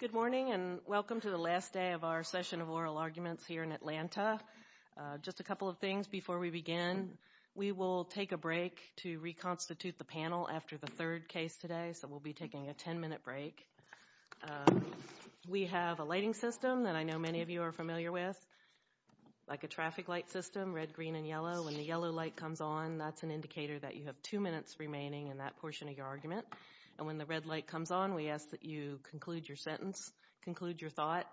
Good morning, and welcome to the last day of our session of oral arguments here in Atlanta. Just a couple of things before we begin. We will take a break to reconstitute the panel after the third case today, so we'll be taking a 10-minute break. We have a lighting system that I know many of you are familiar with, like a traffic light system, red, green, and yellow. When the yellow light comes on, that's an indicator that you have two minutes remaining in that portion of your argument, and when the red light comes on, we ask that you conclude your sentence, conclude your thought,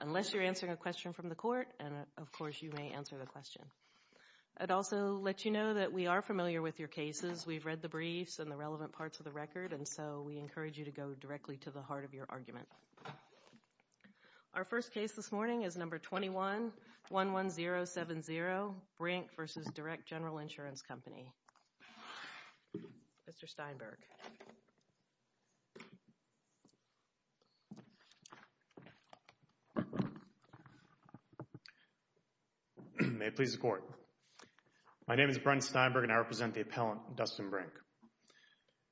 unless you're answering a question from the court, and of course, you may answer the question. I'd also let you know that we are familiar with your cases. We've read the briefs and the relevant parts of the record, and so we encourage you to go directly to the heart of your argument. Our first case this morning is number 21-11070, Brink v. Direct General Insurance Company. Mr. Steinberg. May it please the Court. My name is Brent Steinberg, and I represent the appellant, Dustin Brink.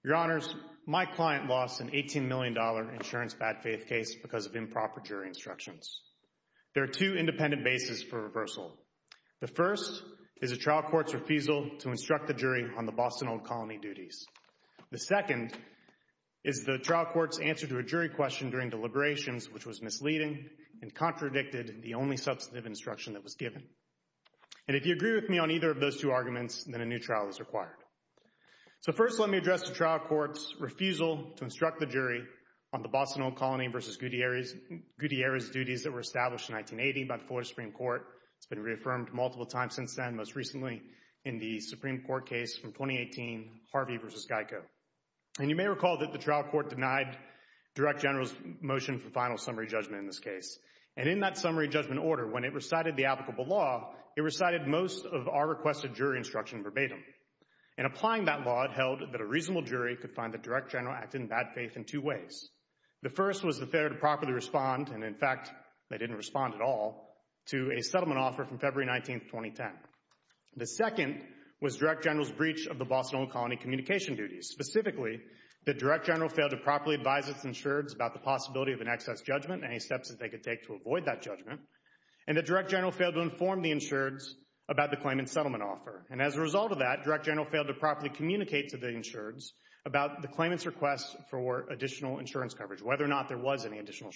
Your Honors, my client lost an $18 million insurance bad faith case because of improper jury instructions. There are two independent bases for reversal. The first is a trial court's refusal to instruct the jury on the Boston Old Colony duties. The second is the trial court's answer to a jury question during deliberations, which was misleading and contradicted the only substantive instruction that was given. And if you agree with me on either of those two arguments, then a new trial is required. So first, let me address the trial court's refusal to instruct the jury on the Boston Old Colony v. Gutierrez duties that were established in 1980 by the Florida Supreme Court. It's been reaffirmed multiple times since then, most recently in the Supreme Court case from 2018, Harvey v. Geico. And you may recall that the trial court denied Direct General's motion for final summary judgment in this case. And in that summary judgment order, when it recited the applicable law, it recited most of our requested jury instruction verbatim. In applying that law, it held that a reasonable jury could find that Direct General acted in bad faith in two ways. The first was the failure to properly respond, and in fact, they didn't respond at all, to a settlement offer from February 19, 2010. The second was Direct General's breach of the Boston Old Colony communication duties. Specifically, that Direct General failed to properly advise its insureds about the possibility of an excess judgment, any steps that they could take to avoid that judgment, and that Direct General failed to inform the insureds about the claimant's settlement offer. And as a result of that, Direct General failed to properly communicate to the insureds about the claimant's request for additional insurance coverage, whether or not there was any additional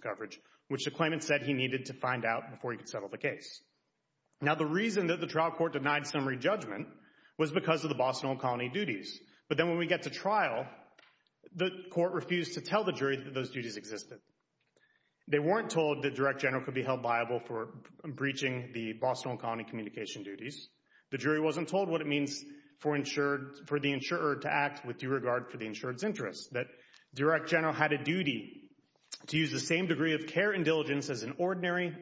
coverage, which the claimant said he needed to find out before he could settle the case. Now the reason that the trial court denied summary judgment was because of the Boston Old Colony duties. But then when we get to trial, the court refused to tell the jury that those duties existed. They weren't told that Direct General could be held liable for breaching the Boston Old Colony communication duties. The jury wasn't told what it means for the insurer to act with due regard for the insured's duty to use the same degree of care and diligence as an ordinary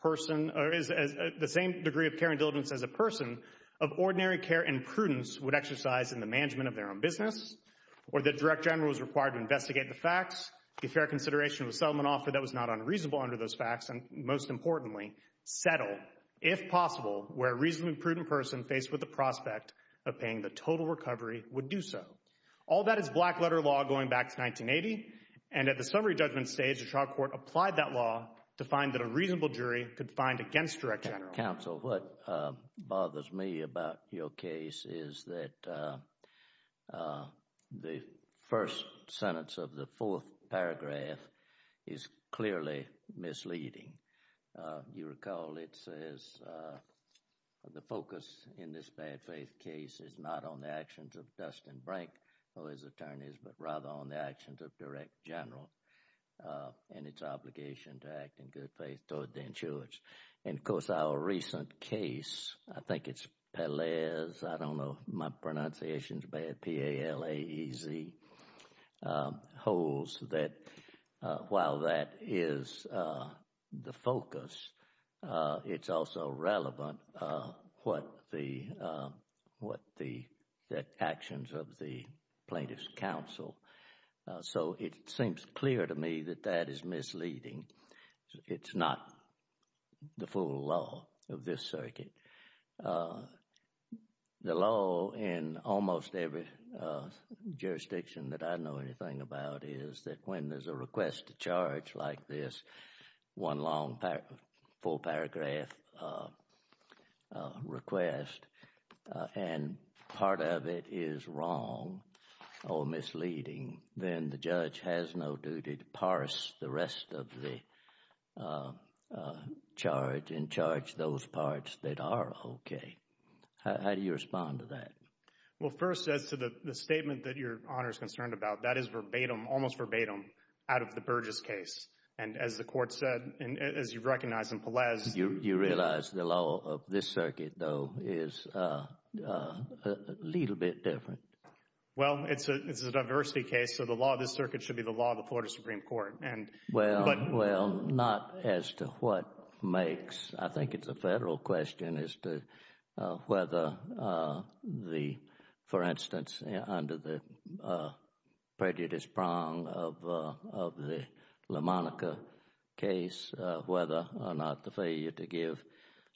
person, or the same degree of care and diligence as a person of ordinary care and prudence would exercise in the management of their own business, or that Direct General was required to investigate the facts, give fair consideration to the settlement offer that was not unreasonable under those facts, and most importantly, settle, if possible, where a reasonably prudent person faced with the prospect of paying the total recovery would do so. All that is black-letter law going back to 1980, and at the summary judgment stage, the trial court applied that law to find that a reasonable jury could find against Direct General. Counsel, what bothers me about your case is that the first sentence of the fourth paragraph is clearly misleading. You recall it says the focus in this bad faith case is not on the actions of Dustin Brank or his attorneys, but rather on the actions of Direct General and its obligation to act in good faith toward the insureds. And of course, our recent case, I think it's Pelez, I don't know my pronunciations, P-A-L-A-E-Z, holds that while that is the focus, it's also relevant what the actions of the plaintiff's counsel. So, it seems clear to me that that is misleading. It's not the full law of this circuit. The law in almost every jurisdiction that I know anything about is that when there's a request to charge like this, one long full paragraph request, and part of it is wrong or misleading, then the judge has no duty to parse the rest of the charge and charge those parts that are okay. How do you respond to that? Well, first, as to the statement that Your Honor is concerned about, that is verbatim, almost verbatim, out of the Burgess case. And as the court said, and as you recognize in Pelez. You realize the law of this circuit, though, is a little bit different. Well, it's a diversity case, so the law of this circuit should be the law of the Florida Supreme Court. Well, not as to what makes. I think it's a Federal question as to whether the, for instance, under the prejudice prong of the LaMonica case, whether or not the failure to give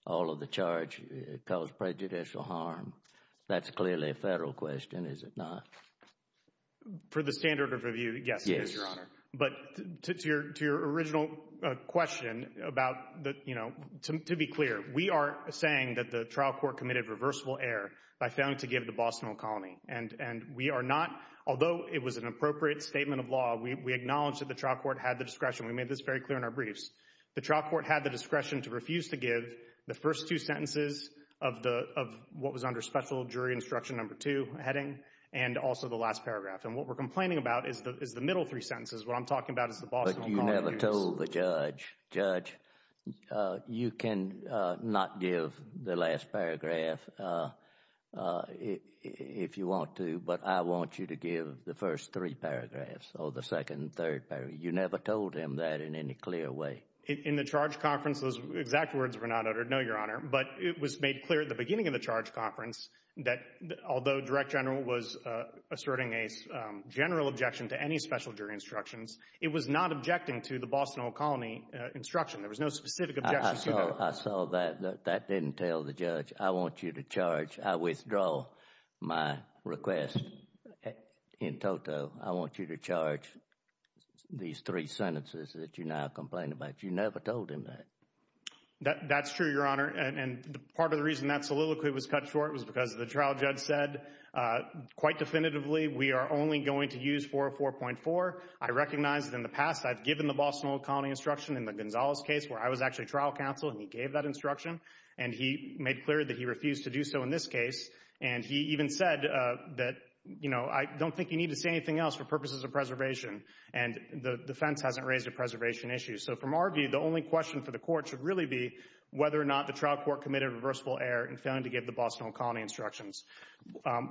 all of the charge caused prejudicial harm. That's clearly a Federal question, is it not? For the standard of review, yes, it is, Your Honor. But to your original question about, you know, to be clear, we are saying that the trial court committed reversible error by failing to give the Bostonal Colony. And we are not, although it was an appropriate statement of law, we acknowledge that the trial court had the discretion, we made this very clear in our briefs, the trial court had the discretion to refuse to give the first two sentences of what was under Special Jury Instruction No. 2 heading and also the last paragraph. And what we're complaining about is the middle three sentences, what I'm talking about is the Bostonal Colony case. But you never told the judge, Judge, you can not give the last paragraph if you want to, but I want you to give the first three paragraphs or the second and third paragraph. You never told him that in any clear way. In the charge conference, those exact words were not uttered, no, Your Honor. But it was made clear at the beginning of the charge conference that although Direct General was asserting a general objection to any Special Jury Instructions, it was not objecting to the Bostonal Colony Instruction. There was no specific objection to that. I saw that. That didn't tell the judge, I want you to charge, I withdraw my request in toto. I want you to charge these three sentences that you now complain about. You never told him that. That's true, Your Honor, and part of the reason that soliloquy was cut short was because of the trial judge said quite definitively we are only going to use 404.4. I recognize that in the past I've given the Bostonal Colony Instruction in the Gonzales case where I was actually trial counsel and he gave that instruction, and he made clear that he refused to do so in this case, and he even said that, you know, I don't think you need to say anything else for purposes of preservation, and the defense hasn't raised a preservation issue. So from our view, the only question for the court should really be whether or not the Bostonal Colony Instructions.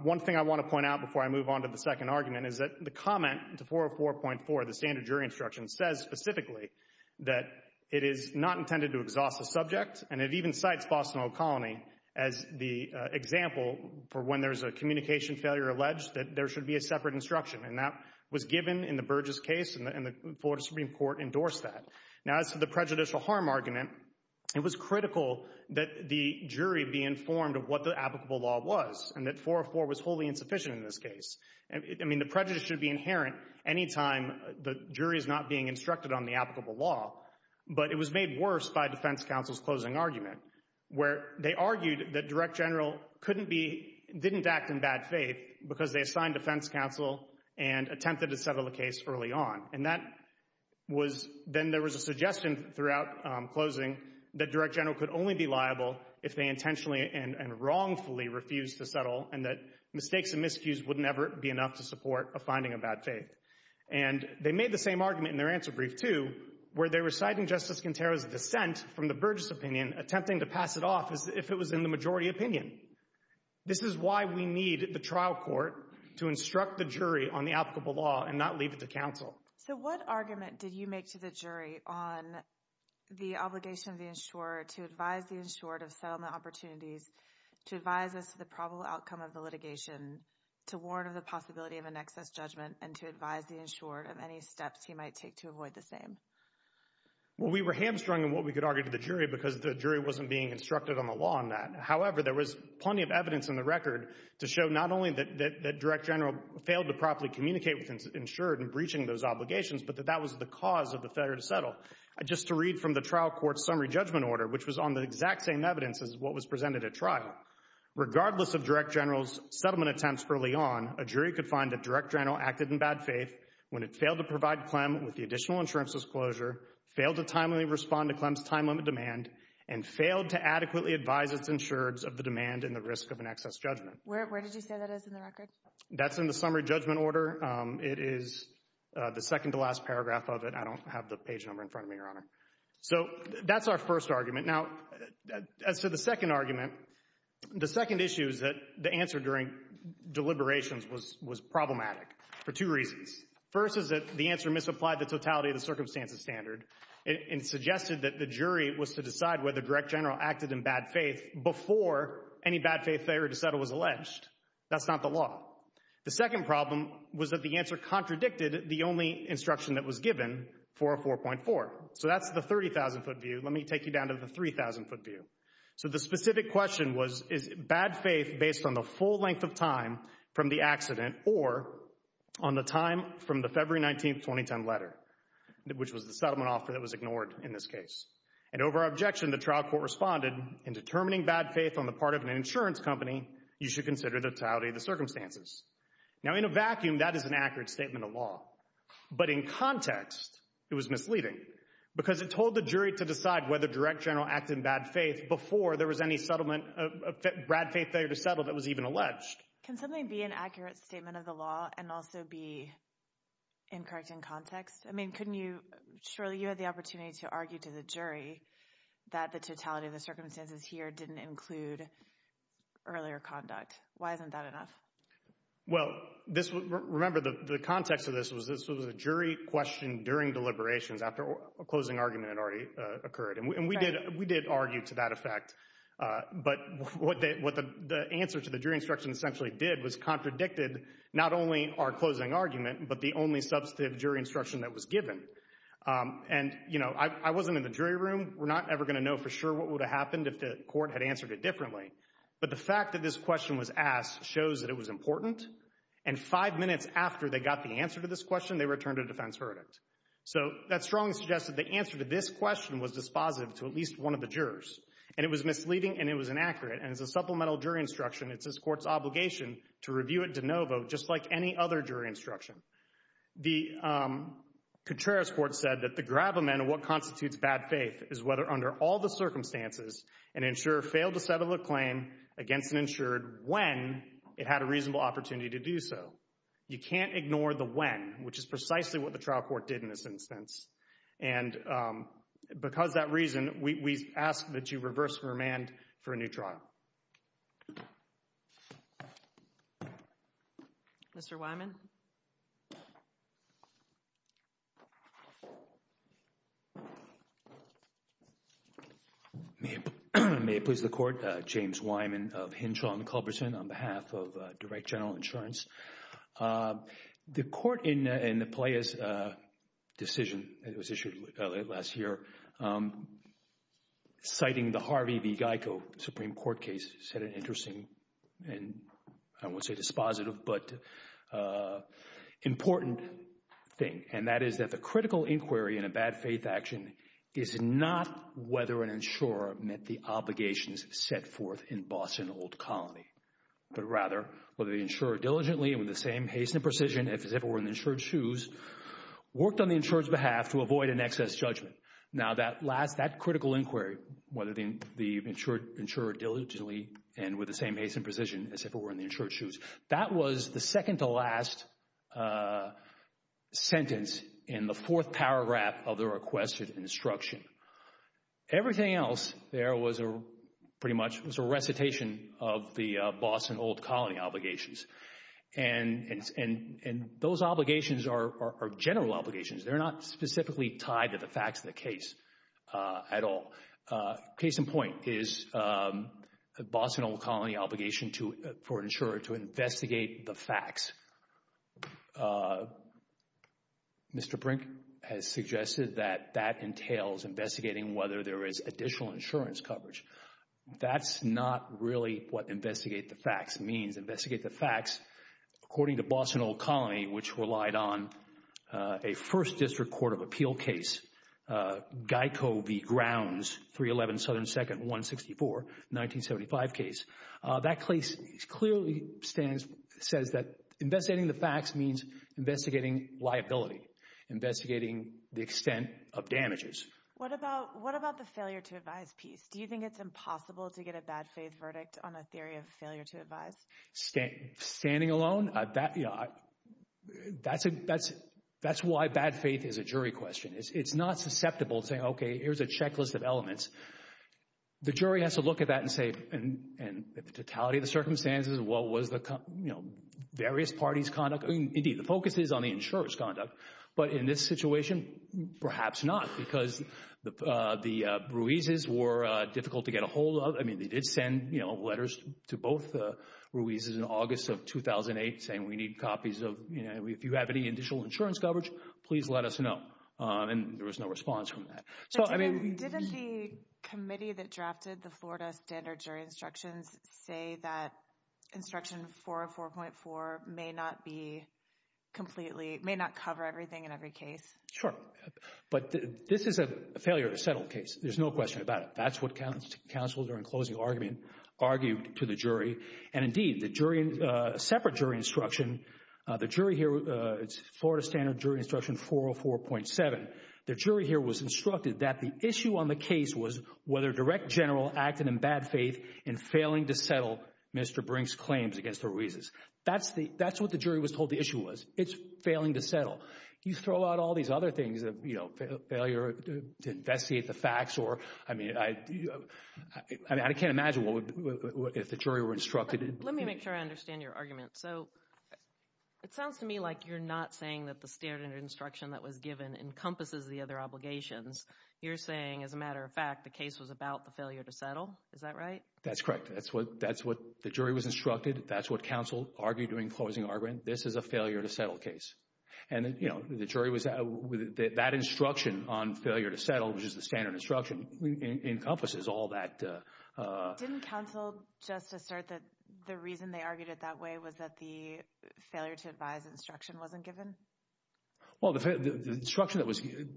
One thing I want to point out before I move on to the second argument is that the comment to 404.4, the standard jury instruction, says specifically that it is not intended to exhaust the subject, and it even cites Bostonal Colony as the example for when there's a communication failure alleged that there should be a separate instruction, and that was given in the Burgess case and the Florida Supreme Court endorsed that. Now as to the prejudicial harm argument, it was critical that the jury be informed of what the applicable law was, and that 404.4 was wholly insufficient in this case. I mean, the prejudice should be inherent any time the jury is not being instructed on the applicable law, but it was made worse by defense counsel's closing argument where they argued that direct general couldn't be, didn't act in bad faith because they assigned defense counsel and attempted to settle the case early on, and that was, then there was a suggestion throughout closing that direct general could only be liable if they intentionally and wrongfully refused to settle, and that mistakes and miscues would never be enough to support a finding of bad faith. And they made the same argument in their answer brief, too, where they were citing Justice Quintero's dissent from the Burgess opinion, attempting to pass it off as if it was in the majority opinion. This is why we need the trial court to instruct the jury on the applicable law and not leave it to counsel. So what argument did you make to the jury on the obligation of the insurer to advise the insured of settlement opportunities, to advise us of the probable outcome of the litigation, to warn of the possibility of an excess judgment, and to advise the insured of any steps he might take to avoid the same? Well, we were hamstrung in what we could argue to the jury because the jury wasn't being instructed on the law on that. However, there was plenty of evidence in the record to show not only that direct general failed to properly communicate with the insured in breaching those obligations, but that that was the cause of the failure to settle. Just to read from the trial court's summary judgment order, which was on the exact same evidence as what was presented at trial, regardless of direct general's settlement attempts early on, a jury could find that direct general acted in bad faith when it failed to provide Clem with the additional insurance disclosure, failed to timely respond to Clem's time limit demand, and failed to adequately advise its insureds of the demand and the risk of an excess judgment. Where did you say that is in the record? That's in the summary judgment order. It is the second to last paragraph of it. I don't have the page number in front of me, Your Honor. So that's our first argument. Now, as to the second argument, the second issue is that the answer during deliberations was problematic for two reasons. First is that the answer misapplied the totality of the circumstances standard and suggested that the jury was to decide whether direct general acted in bad faith before any bad faith failure to settle was alleged. That's not the law. The second problem was that the answer contradicted the only instruction that was given for a 4.4. So that's the 30,000-foot view. Let me take you down to the 3,000-foot view. So the specific question was, is bad faith based on the full length of time from the accident or on the time from the February 19, 2010 letter, which was the settlement offer that was ignored in this case? And over our objection, the trial court responded, in determining bad faith on the part of an under totality of the circumstances. Now in a vacuum, that is an accurate statement of law. But in context, it was misleading because it told the jury to decide whether direct general acted in bad faith before there was any bad faith failure to settle that was even alleged. Can something be an accurate statement of the law and also be incorrect in context? I mean, couldn't you, Shirley, you had the opportunity to argue to the jury that the totality of the circumstances here didn't include earlier conduct. Why isn't that enough? Well, remember, the context of this was this was a jury question during deliberations after a closing argument had already occurred. And we did argue to that effect. But what the answer to the jury instruction essentially did was contradicted not only our closing argument, but the only substantive jury instruction that was given. And I wasn't in the jury room. We're not ever going to know for sure what would have happened if the court had answered it differently. But the fact that this question was asked shows that it was important. And five minutes after they got the answer to this question, they returned a defense verdict. So that strongly suggests that the answer to this question was dispositive to at least one of the jurors. And it was misleading and it was inaccurate. And as a supplemental jury instruction, it's this court's obligation to review it de novo just like any other jury instruction. The Contreras court said that the gravamen of what constitutes bad faith is whether under all the circumstances an insurer failed to settle a claim against an insured when it had a reasonable opportunity to do so. You can't ignore the when, which is precisely what the trial court did in this instance. And because of that reason, we ask that you reverse the remand for a new trial. Mr. Wyman? May it please the court, James Wyman of Hinshaw and Culberson on behalf of Direct General Insurance. The court in the Pelea's decision that was issued last year, citing the Harvey v. Geico Supreme Court case, said an interesting and I won't say dispositive, but important thing. And that is that the critical inquiry in a bad faith action is not whether an insurer met the obligations set forth in Boston Old Colony, but rather whether the insurer diligently and with the same haste and precision as if it were in the insured's shoes, worked on the insured's behalf to avoid an excess judgment. Now that last, that critical inquiry, whether the insurer diligently and with the same haste and precision as if it were in the insured's shoes, that was the second to last sentence in the fourth paragraph of the requested instruction. Everything else there was pretty much a recitation of the Boston Old Colony obligations. And those obligations are general obligations. They're not specifically tied to the facts of the case at all. Case in point is the Boston Old Colony obligation for an insurer to investigate the facts. Mr. Brink has suggested that that entails investigating whether there is additional insurance coverage. That's not really what investigate the facts means. Investigate the facts, according to Boston Old Colony, which relied on a First District Court of Appeal case, Geico v. Grounds, 311 Southern 2nd, 164, 1975 case. That case clearly stands, says that investigating the facts means investigating liability, investigating the extent of damages. What about, what about the failure to advise piece? Do you think it's impossible to get a bad faith verdict on a theory of failure to advise? Standing alone, that's why bad faith is a jury question. It's not susceptible to saying, okay, here's a checklist of elements. The jury has to look at that and say, and the totality of the circumstances, what was the, you know, various parties' conduct. But in this situation, perhaps not, because the Ruiz's were difficult to get a hold of. I mean, they did send, you know, letters to both the Ruiz's in August of 2008 saying, we need copies of, you know, if you have any additional insurance coverage, please let us know. And there was no response from that. So, I mean. Didn't the committee that drafted the Florida Standard Jury Instructions say that Instruction 404.4 may not be completely, may not cover everything in every case? Sure. But this is a failure to settle case. There's no question about it. That's what counsel during closing argument argued to the jury. And indeed, the jury, separate jury instruction, the jury here, it's Florida Standard Jury Instruction 404.7. The jury here was instructed that the issue on the case was whether a direct general acted in bad faith and failing to settle Mr. Brink's claims against the Ruiz's. That's the, that's what the jury was told the issue was. It's failing to settle. You throw out all these other things, you know, failure to investigate the facts or, I mean, I can't imagine what would, if the jury were instructed. Let me make sure I understand your argument. So it sounds to me like you're not saying that the standard instruction that was given encompasses the other obligations. You're saying, as a matter of fact, the case was about the failure to settle. Is that right? That's correct. That's what, that's what the jury was instructed. That's what counsel argued during closing argument. This is a failure to settle case. And you know, the jury was, that instruction on failure to settle, which is the standard instruction, encompasses all that. Didn't counsel just assert that the reason they argued it that way was that the failure to advise instruction wasn't given? Well, the instruction that was given.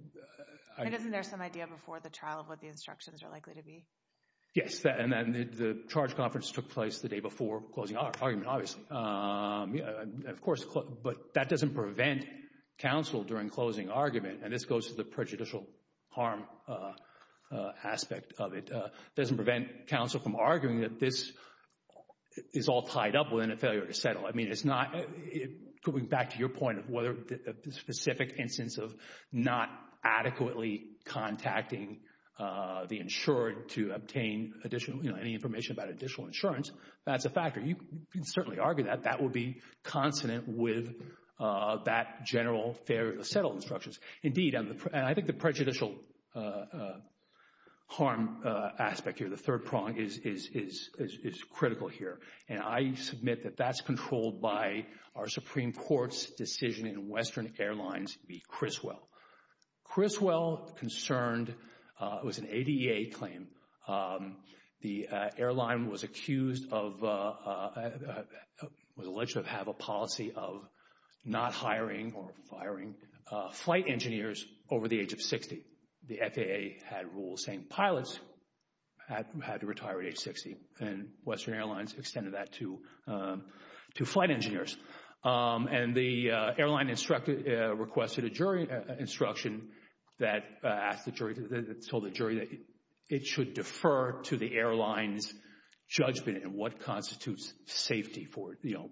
And isn't there some idea before the trial of what the instructions are likely to be? Yes, and the charge conference took place the day before closing argument, obviously. Of course, but that doesn't prevent counsel during closing argument, and this goes to the prejudicial harm aspect of it, doesn't prevent counsel from arguing that this is all tied up within a failure to settle. I mean, it's not, going back to your point of whether a specific instance of not adequately contacting the insurer to obtain additional, you know, any information about additional insurance, that's a factor. You can certainly argue that that would be consonant with that general failure to settle instructions. Indeed, and I think the prejudicial harm aspect here, the third prong, is critical here. And I submit that that's controlled by our Supreme Court's decision in Western Airlines v. Criswell. Criswell concerned, it was an ADA claim, the airline was accused of, was alleged to have a policy of not hiring or firing flight engineers over the age of 60. The FAA had rules saying pilots had to retire at age 60, and Western Airlines extended that to flight engineers. And the airline requested a jury instruction that told the jury that it should defer to the airline's judgment in what constitutes safety for, you know,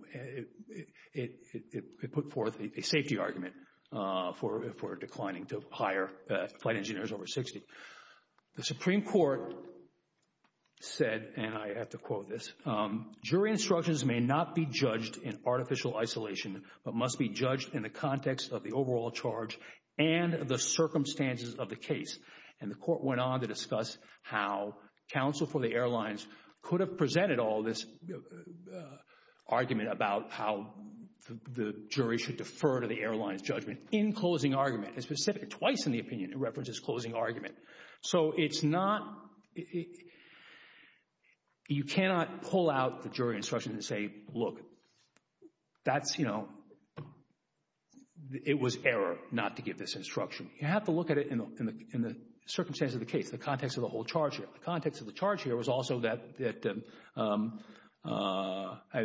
it put forth a safety argument for declining to hire flight engineers over 60. The Supreme Court said, and I have to quote this, jury instructions may not be judged in artificial isolation, but must be judged in the context of the overall charge and the circumstances of the case. And the court went on to discuss how counsel for the airlines could have presented all this argument about how the jury should defer to the airline's judgment in closing argument, and specifically twice in the opinion it references closing argument. So it's not, you cannot pull out the jury instruction and say, look, that's, you know, it was error not to give this instruction. You have to look at it in the circumstances of the case, the context of the whole charge here. The context of the charge here was also that, and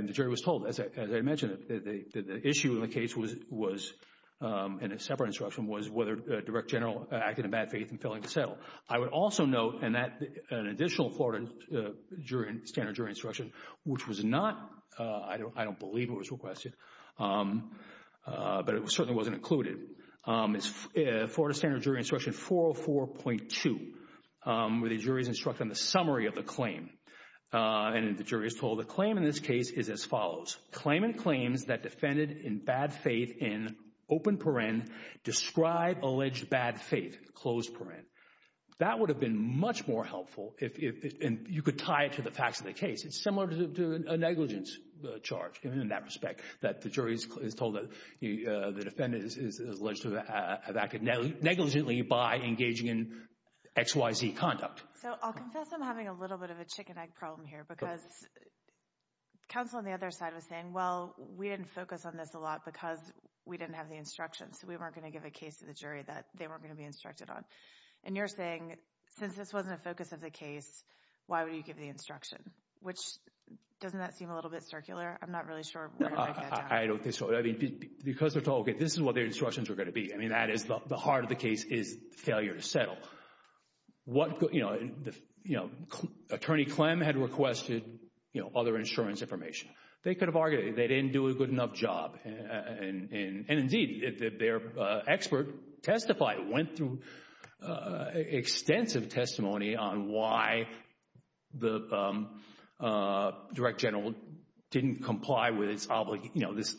the jury was told, as I mentioned, that the issue in the case was, in a separate instruction, was whether a direct general acted in bad faith and failing to settle. I would also note, and that, an additional Florida standard jury instruction, which was not, I don't believe it was requested, but it certainly wasn't included, is Florida jury's instruction on the summary of the claim, and the jury is told the claim in this case is as follows. Claimant claims that defendant in bad faith in open paren, describe alleged bad faith, closed paren. That would have been much more helpful if, and you could tie it to the facts of the case. It's similar to a negligence charge in that respect, that the jury is told that the defendant is alleged to have acted negligently by engaging in XYZ conduct. So, I'll confess I'm having a little bit of a chicken-egg problem here, because counsel on the other side was saying, well, we didn't focus on this a lot because we didn't have the instructions. We weren't going to give a case to the jury that they weren't going to be instructed on. And you're saying, since this wasn't a focus of the case, why would you give the instruction? Which, doesn't that seem a little bit circular? I'm not really sure where I'm going with that. I don't think so. I mean, because they're told, okay, this is what their instructions are going to be. I mean, that is, the heart of the case is failure to settle. What, you know, Attorney Clem had requested, you know, other insurance information. They could have argued, they didn't do a good enough job, and indeed, their expert testified, went through extensive testimony on why the direct general didn't comply with this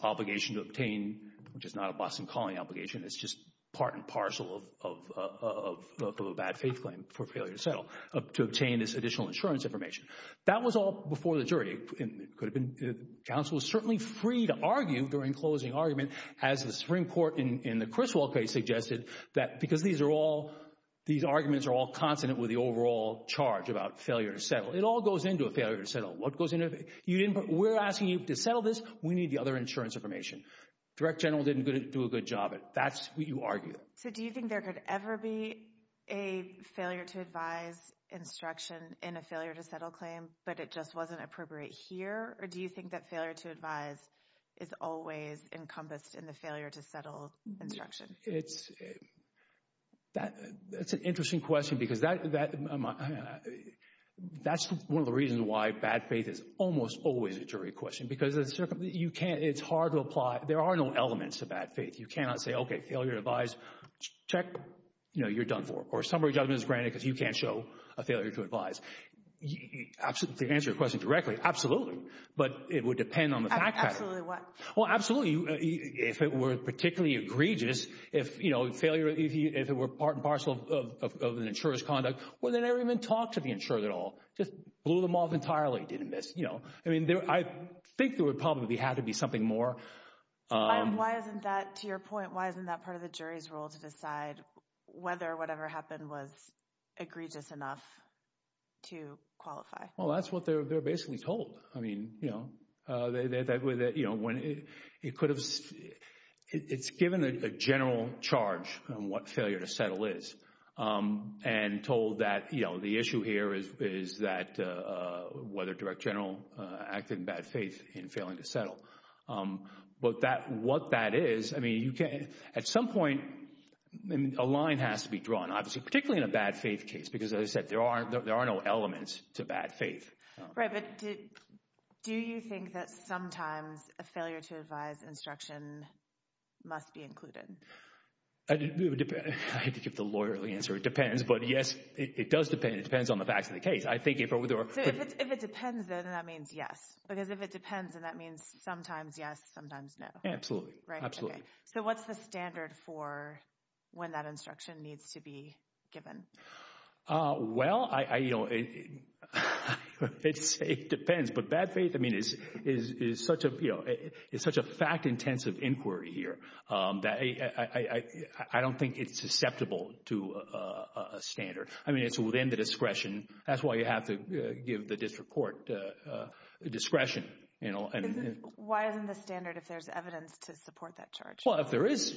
obligation to obtain, which is not a Boston Calling obligation. It's just part and parcel of a bad faith claim for failure to settle, to obtain this additional insurance information. That was all before the jury. It could have been, counsel was certainly free to argue during closing argument, as the Supreme Court in the Criswell case suggested, that because these are all, these arguments are all consonant with the overall charge about failure to settle. It all goes into a failure to settle. What goes into it? You didn't, we're asking you to settle this. We need the other insurance information. Direct general didn't do a good job at it. That's what you argue. So, do you think there could ever be a failure to advise instruction in a failure to settle claim, but it just wasn't appropriate here, or do you think that failure to advise is always encompassed in the failure to settle instruction? It's, that's an interesting question, because that's one of the reasons why bad faith is There are no elements of bad faith. You cannot say, okay, failure to advise, check, you know, you're done for. Or summary judgment is granted because you can't show a failure to advise. Absolutely. To answer your question directly, absolutely. But it would depend on the fact pattern. Absolutely what? Well, absolutely. If it were particularly egregious, if, you know, failure, if it were part and parcel of an insurer's conduct, well, they never even talked to the insurer at all. Just blew them off entirely, didn't miss, you know. I mean, I think there would probably have to be something more. Why isn't that, to your point, why isn't that part of the jury's role to decide whether whatever happened was egregious enough to qualify? Well, that's what they're basically told. I mean, you know, that, you know, when it could have, it's given a general charge on what failure to settle is, and told that, you know, the issue here is that whether direct general acted in bad faith in failing to settle. But that, what that is, I mean, you can't, at some point, a line has to be drawn, obviously, particularly in a bad faith case, because as I said, there are, there are no elements to bad faith. Right. But do you think that sometimes a failure to advise instruction must be included? I hate to give the lawyerly answer. It depends. But yes, it does depend. It depends on the facts of the case. So if it depends, then that means yes, because if it depends, then that means sometimes yes, sometimes no. Absolutely. Right. Absolutely. So what's the standard for when that instruction needs to be given? Well, I, you know, it depends. But bad faith, I mean, is such a fact-intensive inquiry here that I don't think it's susceptible to a standard. I mean, it's within the discretion. That's why you have to give the district court discretion, you know. Why isn't the standard if there's evidence to support that charge? Well, if there is,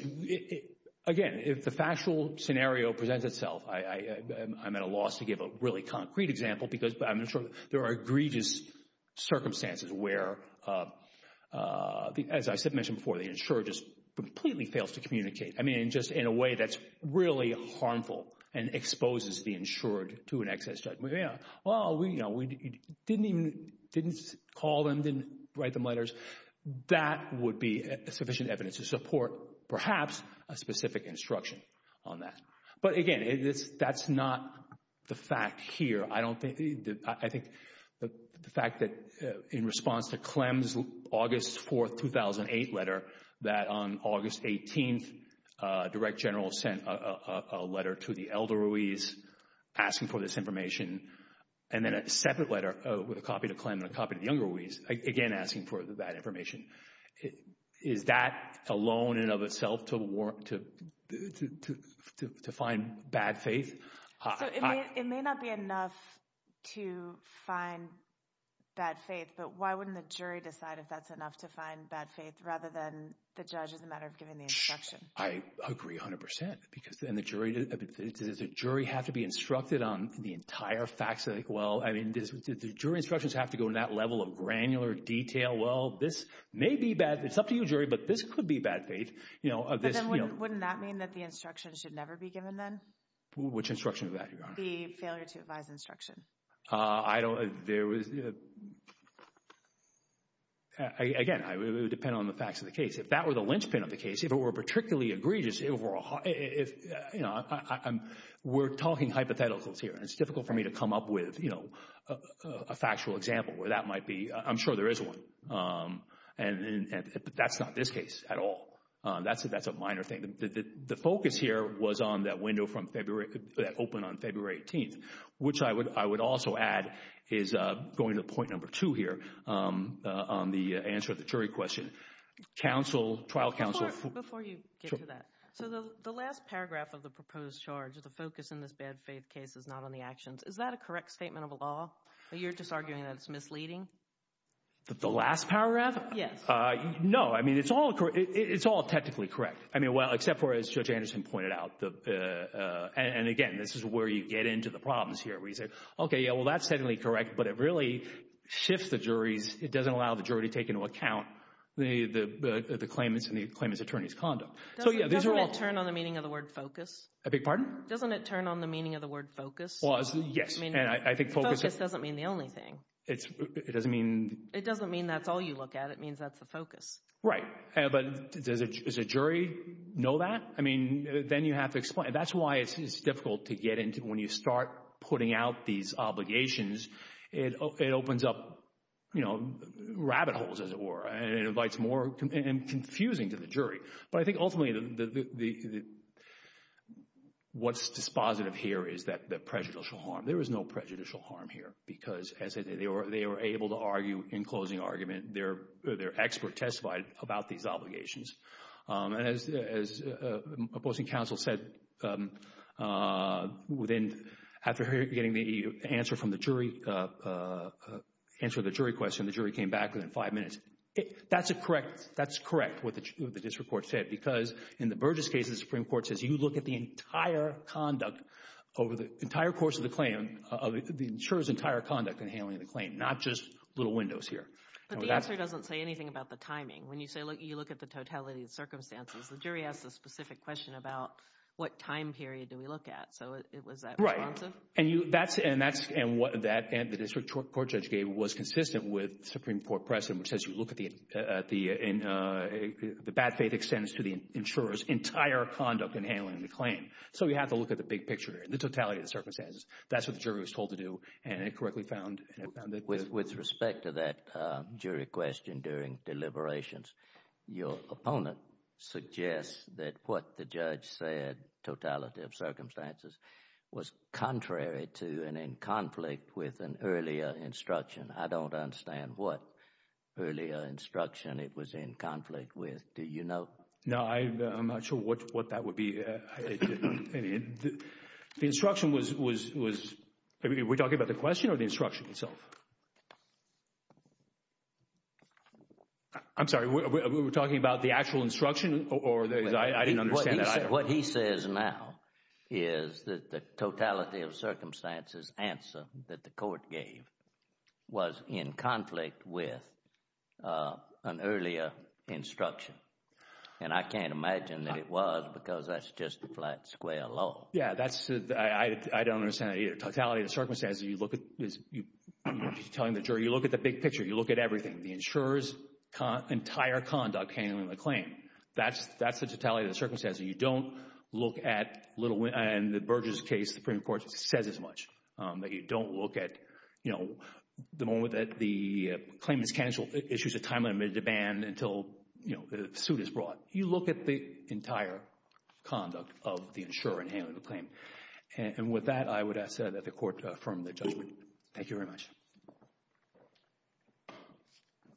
again, if the factual scenario presents itself, I'm at a loss to give a really concrete example, because I'm sure there are egregious circumstances where, as I mentioned before, the insurer just completely fails to communicate, I mean, just in a way that's really harmful and exposes the insurer to an excess judgment. Well, you know, we didn't even call them, didn't write them letters. That would be sufficient evidence to support, perhaps, a specific instruction on that. But again, that's not the fact here. I don't think, I think the fact that in response to Clem's August 4, 2008 letter that on August 18, a direct general sent a letter to the elder Ruiz asking for this information, and then a separate letter with a copy to Clem and a copy to the younger Ruiz, again asking for that information. Is that alone and of itself to find bad faith? So, it may not be enough to find bad faith, but why wouldn't the jury decide if that's enough to find bad faith, rather than the judge as a matter of giving the instruction? I agree 100 percent, because, and the jury, does the jury have to be instructed on the entire facts? Like, well, I mean, does the jury instructions have to go to that level of granular detail? Well, this may be bad, it's up to you, jury, but this could be bad faith, you know. But then wouldn't that mean that the instruction should never be given then? Which instruction is that, Your Honor? The failure to advise instruction. I don't, there was, again, it would depend on the facts of the case. If that were the linchpin of the case, if it were particularly egregious, if, you know, we're talking hypotheticals here, and it's difficult for me to come up with, you know, a factual example where that might be, I'm sure there is one, but that's not this case at all. That's a minor thing. The focus here was on that window from February, that opened on February 18th, which I would also add is going to point number two here on the answer to the jury question. Counsel, trial counsel. Before you get to that, so the last paragraph of the proposed charge, the focus in this bad faith case is not on the actions, is that a correct statement of law? You're just arguing that it's misleading? The last paragraph? Yes. No, I mean, it's all technically correct. I mean, well, except for, as Judge Anderson pointed out, and again, this is where you get into the problems here, where you say, okay, yeah, well, that's technically correct, but it really shifts the jury's, it doesn't allow the jury to take into account the claimant's and the claimant's attorney's conduct. So yeah, these are all— Doesn't it turn on the meaning of the word focus? I beg your pardon? Doesn't it turn on the meaning of the word focus? Well, yes, and I think focus— Focus doesn't mean the only thing. It doesn't mean— It doesn't mean that's all you look at. It means that's the focus. Right. But does a jury know that? I mean, then you have to explain. That's why it's difficult to get into, when you start putting out these obligations, it opens up, you know, rabbit holes, as it were, and it invites more, and confusing to the jury. But I think ultimately, what's dispositive here is that prejudicial harm. There is no prejudicial harm here, because as they were able to argue in closing argument, their expert testified about these obligations. And as opposing counsel said, after getting the answer from the jury, answer the jury question, the jury came back within five minutes. That's correct, what the district court said, because in the Burgess case, the Supreme Court says you look at the entire conduct over the entire course of the claim, of the insurer's entire conduct in handling the claim, not just little windows here. But the answer doesn't say anything about the timing. When you say, look, you look at the totality of the circumstances, the jury asks a specific question about what time period do we look at? So was that responsive? Right. And you, that's, and that's, and what that, and the district court judge gave was consistent with Supreme Court precedent, which says you look at the, at the, in, the bad faith extends to the insurer's entire conduct in handling the claim. So you have to look at the big picture here, the totality of the circumstances. That's what the jury was told to do, and it correctly found, and it found it. With respect to that jury question during deliberations, your opponent suggests that what the judge said, totality of circumstances, was contrary to and in conflict with an earlier instruction. I don't understand what earlier instruction it was in conflict with. Do you know? No, I, I'm not sure what, what that would be. The instruction was, was, was, are we talking about the question or the instruction itself? I'm sorry, we were talking about the actual instruction or the, I didn't understand that. What he says now is that the totality of circumstances answer that the court gave was in conflict with an earlier instruction, and I can't imagine that it was because that's just a flat square law. Yeah, that's, I don't understand it either. Totality of circumstances, you look at, you're telling the jury, you look at the big picture, you look at everything. The insurer's entire conduct handling the claim, that's the totality of the circumstances. You don't look at little, in the Burgess case, the Supreme Court says as much, that you don't look at, you know, the moment that the claim is canceled, issues a time limit of demand until, you know, the suit is brought. You look at the entire conduct of the insurer in handling the claim, and with that, I would ask that the court affirm the judgment. Thank you very much.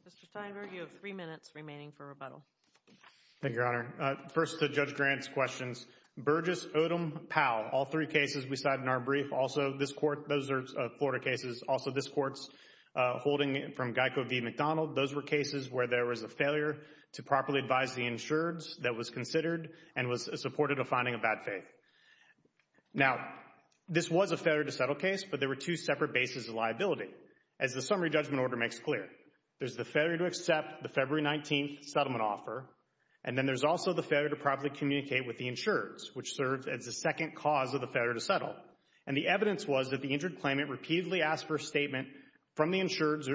Mr. Steinberg, you have three minutes remaining for rebuttal. Thank you, Your Honor. First to Judge Grant's questions. Burgess, Odom, Powell, all three cases we cited in our brief, also this court, those are Florida cases, also this court's holding from Geico v. McDonald, those were cases where there was a failure to properly advise the insureds that was considered and was supported a finding of bad faith. Now, this was a failure to settle case, but there were two separate bases of liability. As the summary judgment order makes clear, there's the failure to accept the February 19th settlement offer, and then there's also the failure to properly communicate with the insureds, which serves as the second cause of the failure to settle. And the evidence was that the injured claimant repeatedly asked for a statement from the insured's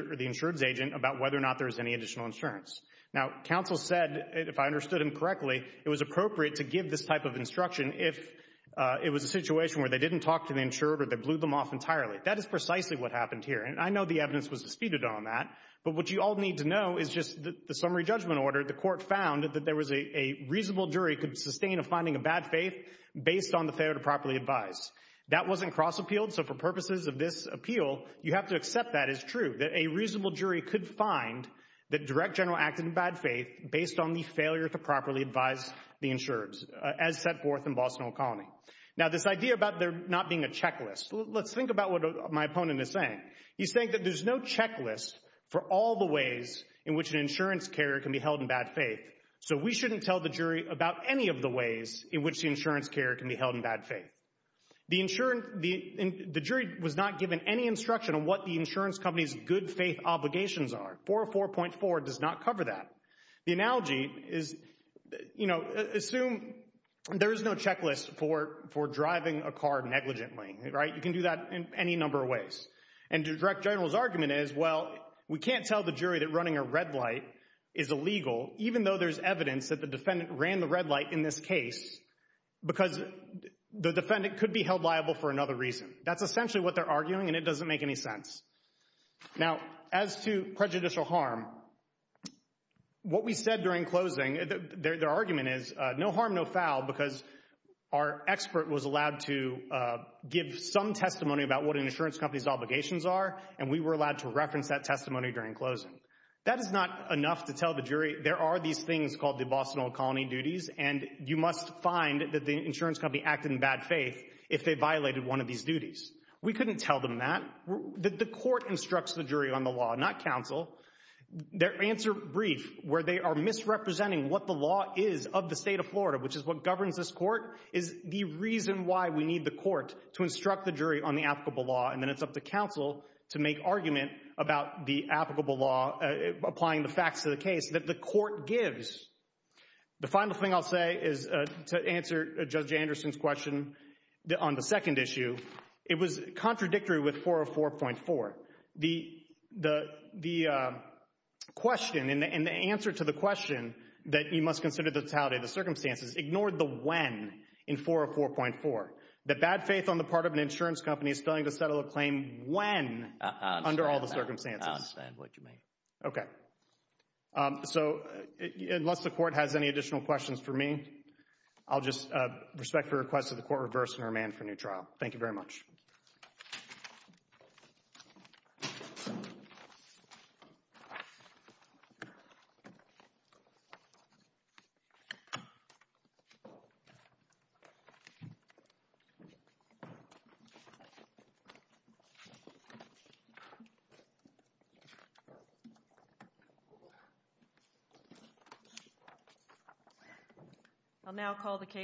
agent about whether or not there was any additional insurance. Now, counsel said, if I understood him correctly, it was appropriate to give this type of instruction if it was a situation where they didn't talk to the insured or they blew them off entirely. That is precisely what happened here. And I know the evidence was disputed on that, but what you all need to know is just the summary judgment order, the court found that there was a reasonable jury could sustain a finding of bad faith based on the failure to properly advise. That wasn't cross-appealed, so for purposes of this appeal, you have to accept that as a reasonable jury could find that Direct General acted in bad faith based on the failure to properly advise the insureds, as set forth in Boston O'Connell. Now this idea about there not being a checklist, let's think about what my opponent is saying. He's saying that there's no checklist for all the ways in which an insurance carrier can be held in bad faith, so we shouldn't tell the jury about any of the ways in which the insurance carrier can be held in bad faith. The jury was not given any instruction on what the insurance company's good faith obligations are. 404.4 does not cover that. The analogy is, you know, assume there is no checklist for driving a car negligently, right? You can do that in any number of ways. And Direct General's argument is, well, we can't tell the jury that running a red light is illegal, even though there's evidence that the defendant ran the red light in this case because the defendant could be held liable for another reason. That's essentially what they're arguing, and it doesn't make any sense. Now as to prejudicial harm, what we said during closing, their argument is no harm, no foul, because our expert was allowed to give some testimony about what an insurance company's obligations are, and we were allowed to reference that testimony during closing. That is not enough to tell the jury there are these things called the Boston O'Connell duties, and you must find that the insurance company acted in bad faith if they violated one of these duties. We couldn't tell them that. The court instructs the jury on the law, not counsel. Their answer brief, where they are misrepresenting what the law is of the state of Florida, which is what governs this court, is the reason why we need the court to instruct the jury on the applicable law, and then it's up to counsel to make argument about the applicable law applying the facts of the case that the court gives. The final thing I'll say is to answer Judge Anderson's question on the second issue. It was contradictory with 404.4. The question and the answer to the question that you must consider the totality of the circumstances ignored the when in 404.4. The bad faith on the part of an insurance company is failing to settle a claim when under all the circumstances. I understand what you mean. Okay. So, unless the court has any additional questions for me, I'll just respect the request of the court to reverse and remand for a new trial. Thank you very much. I'll now call the case.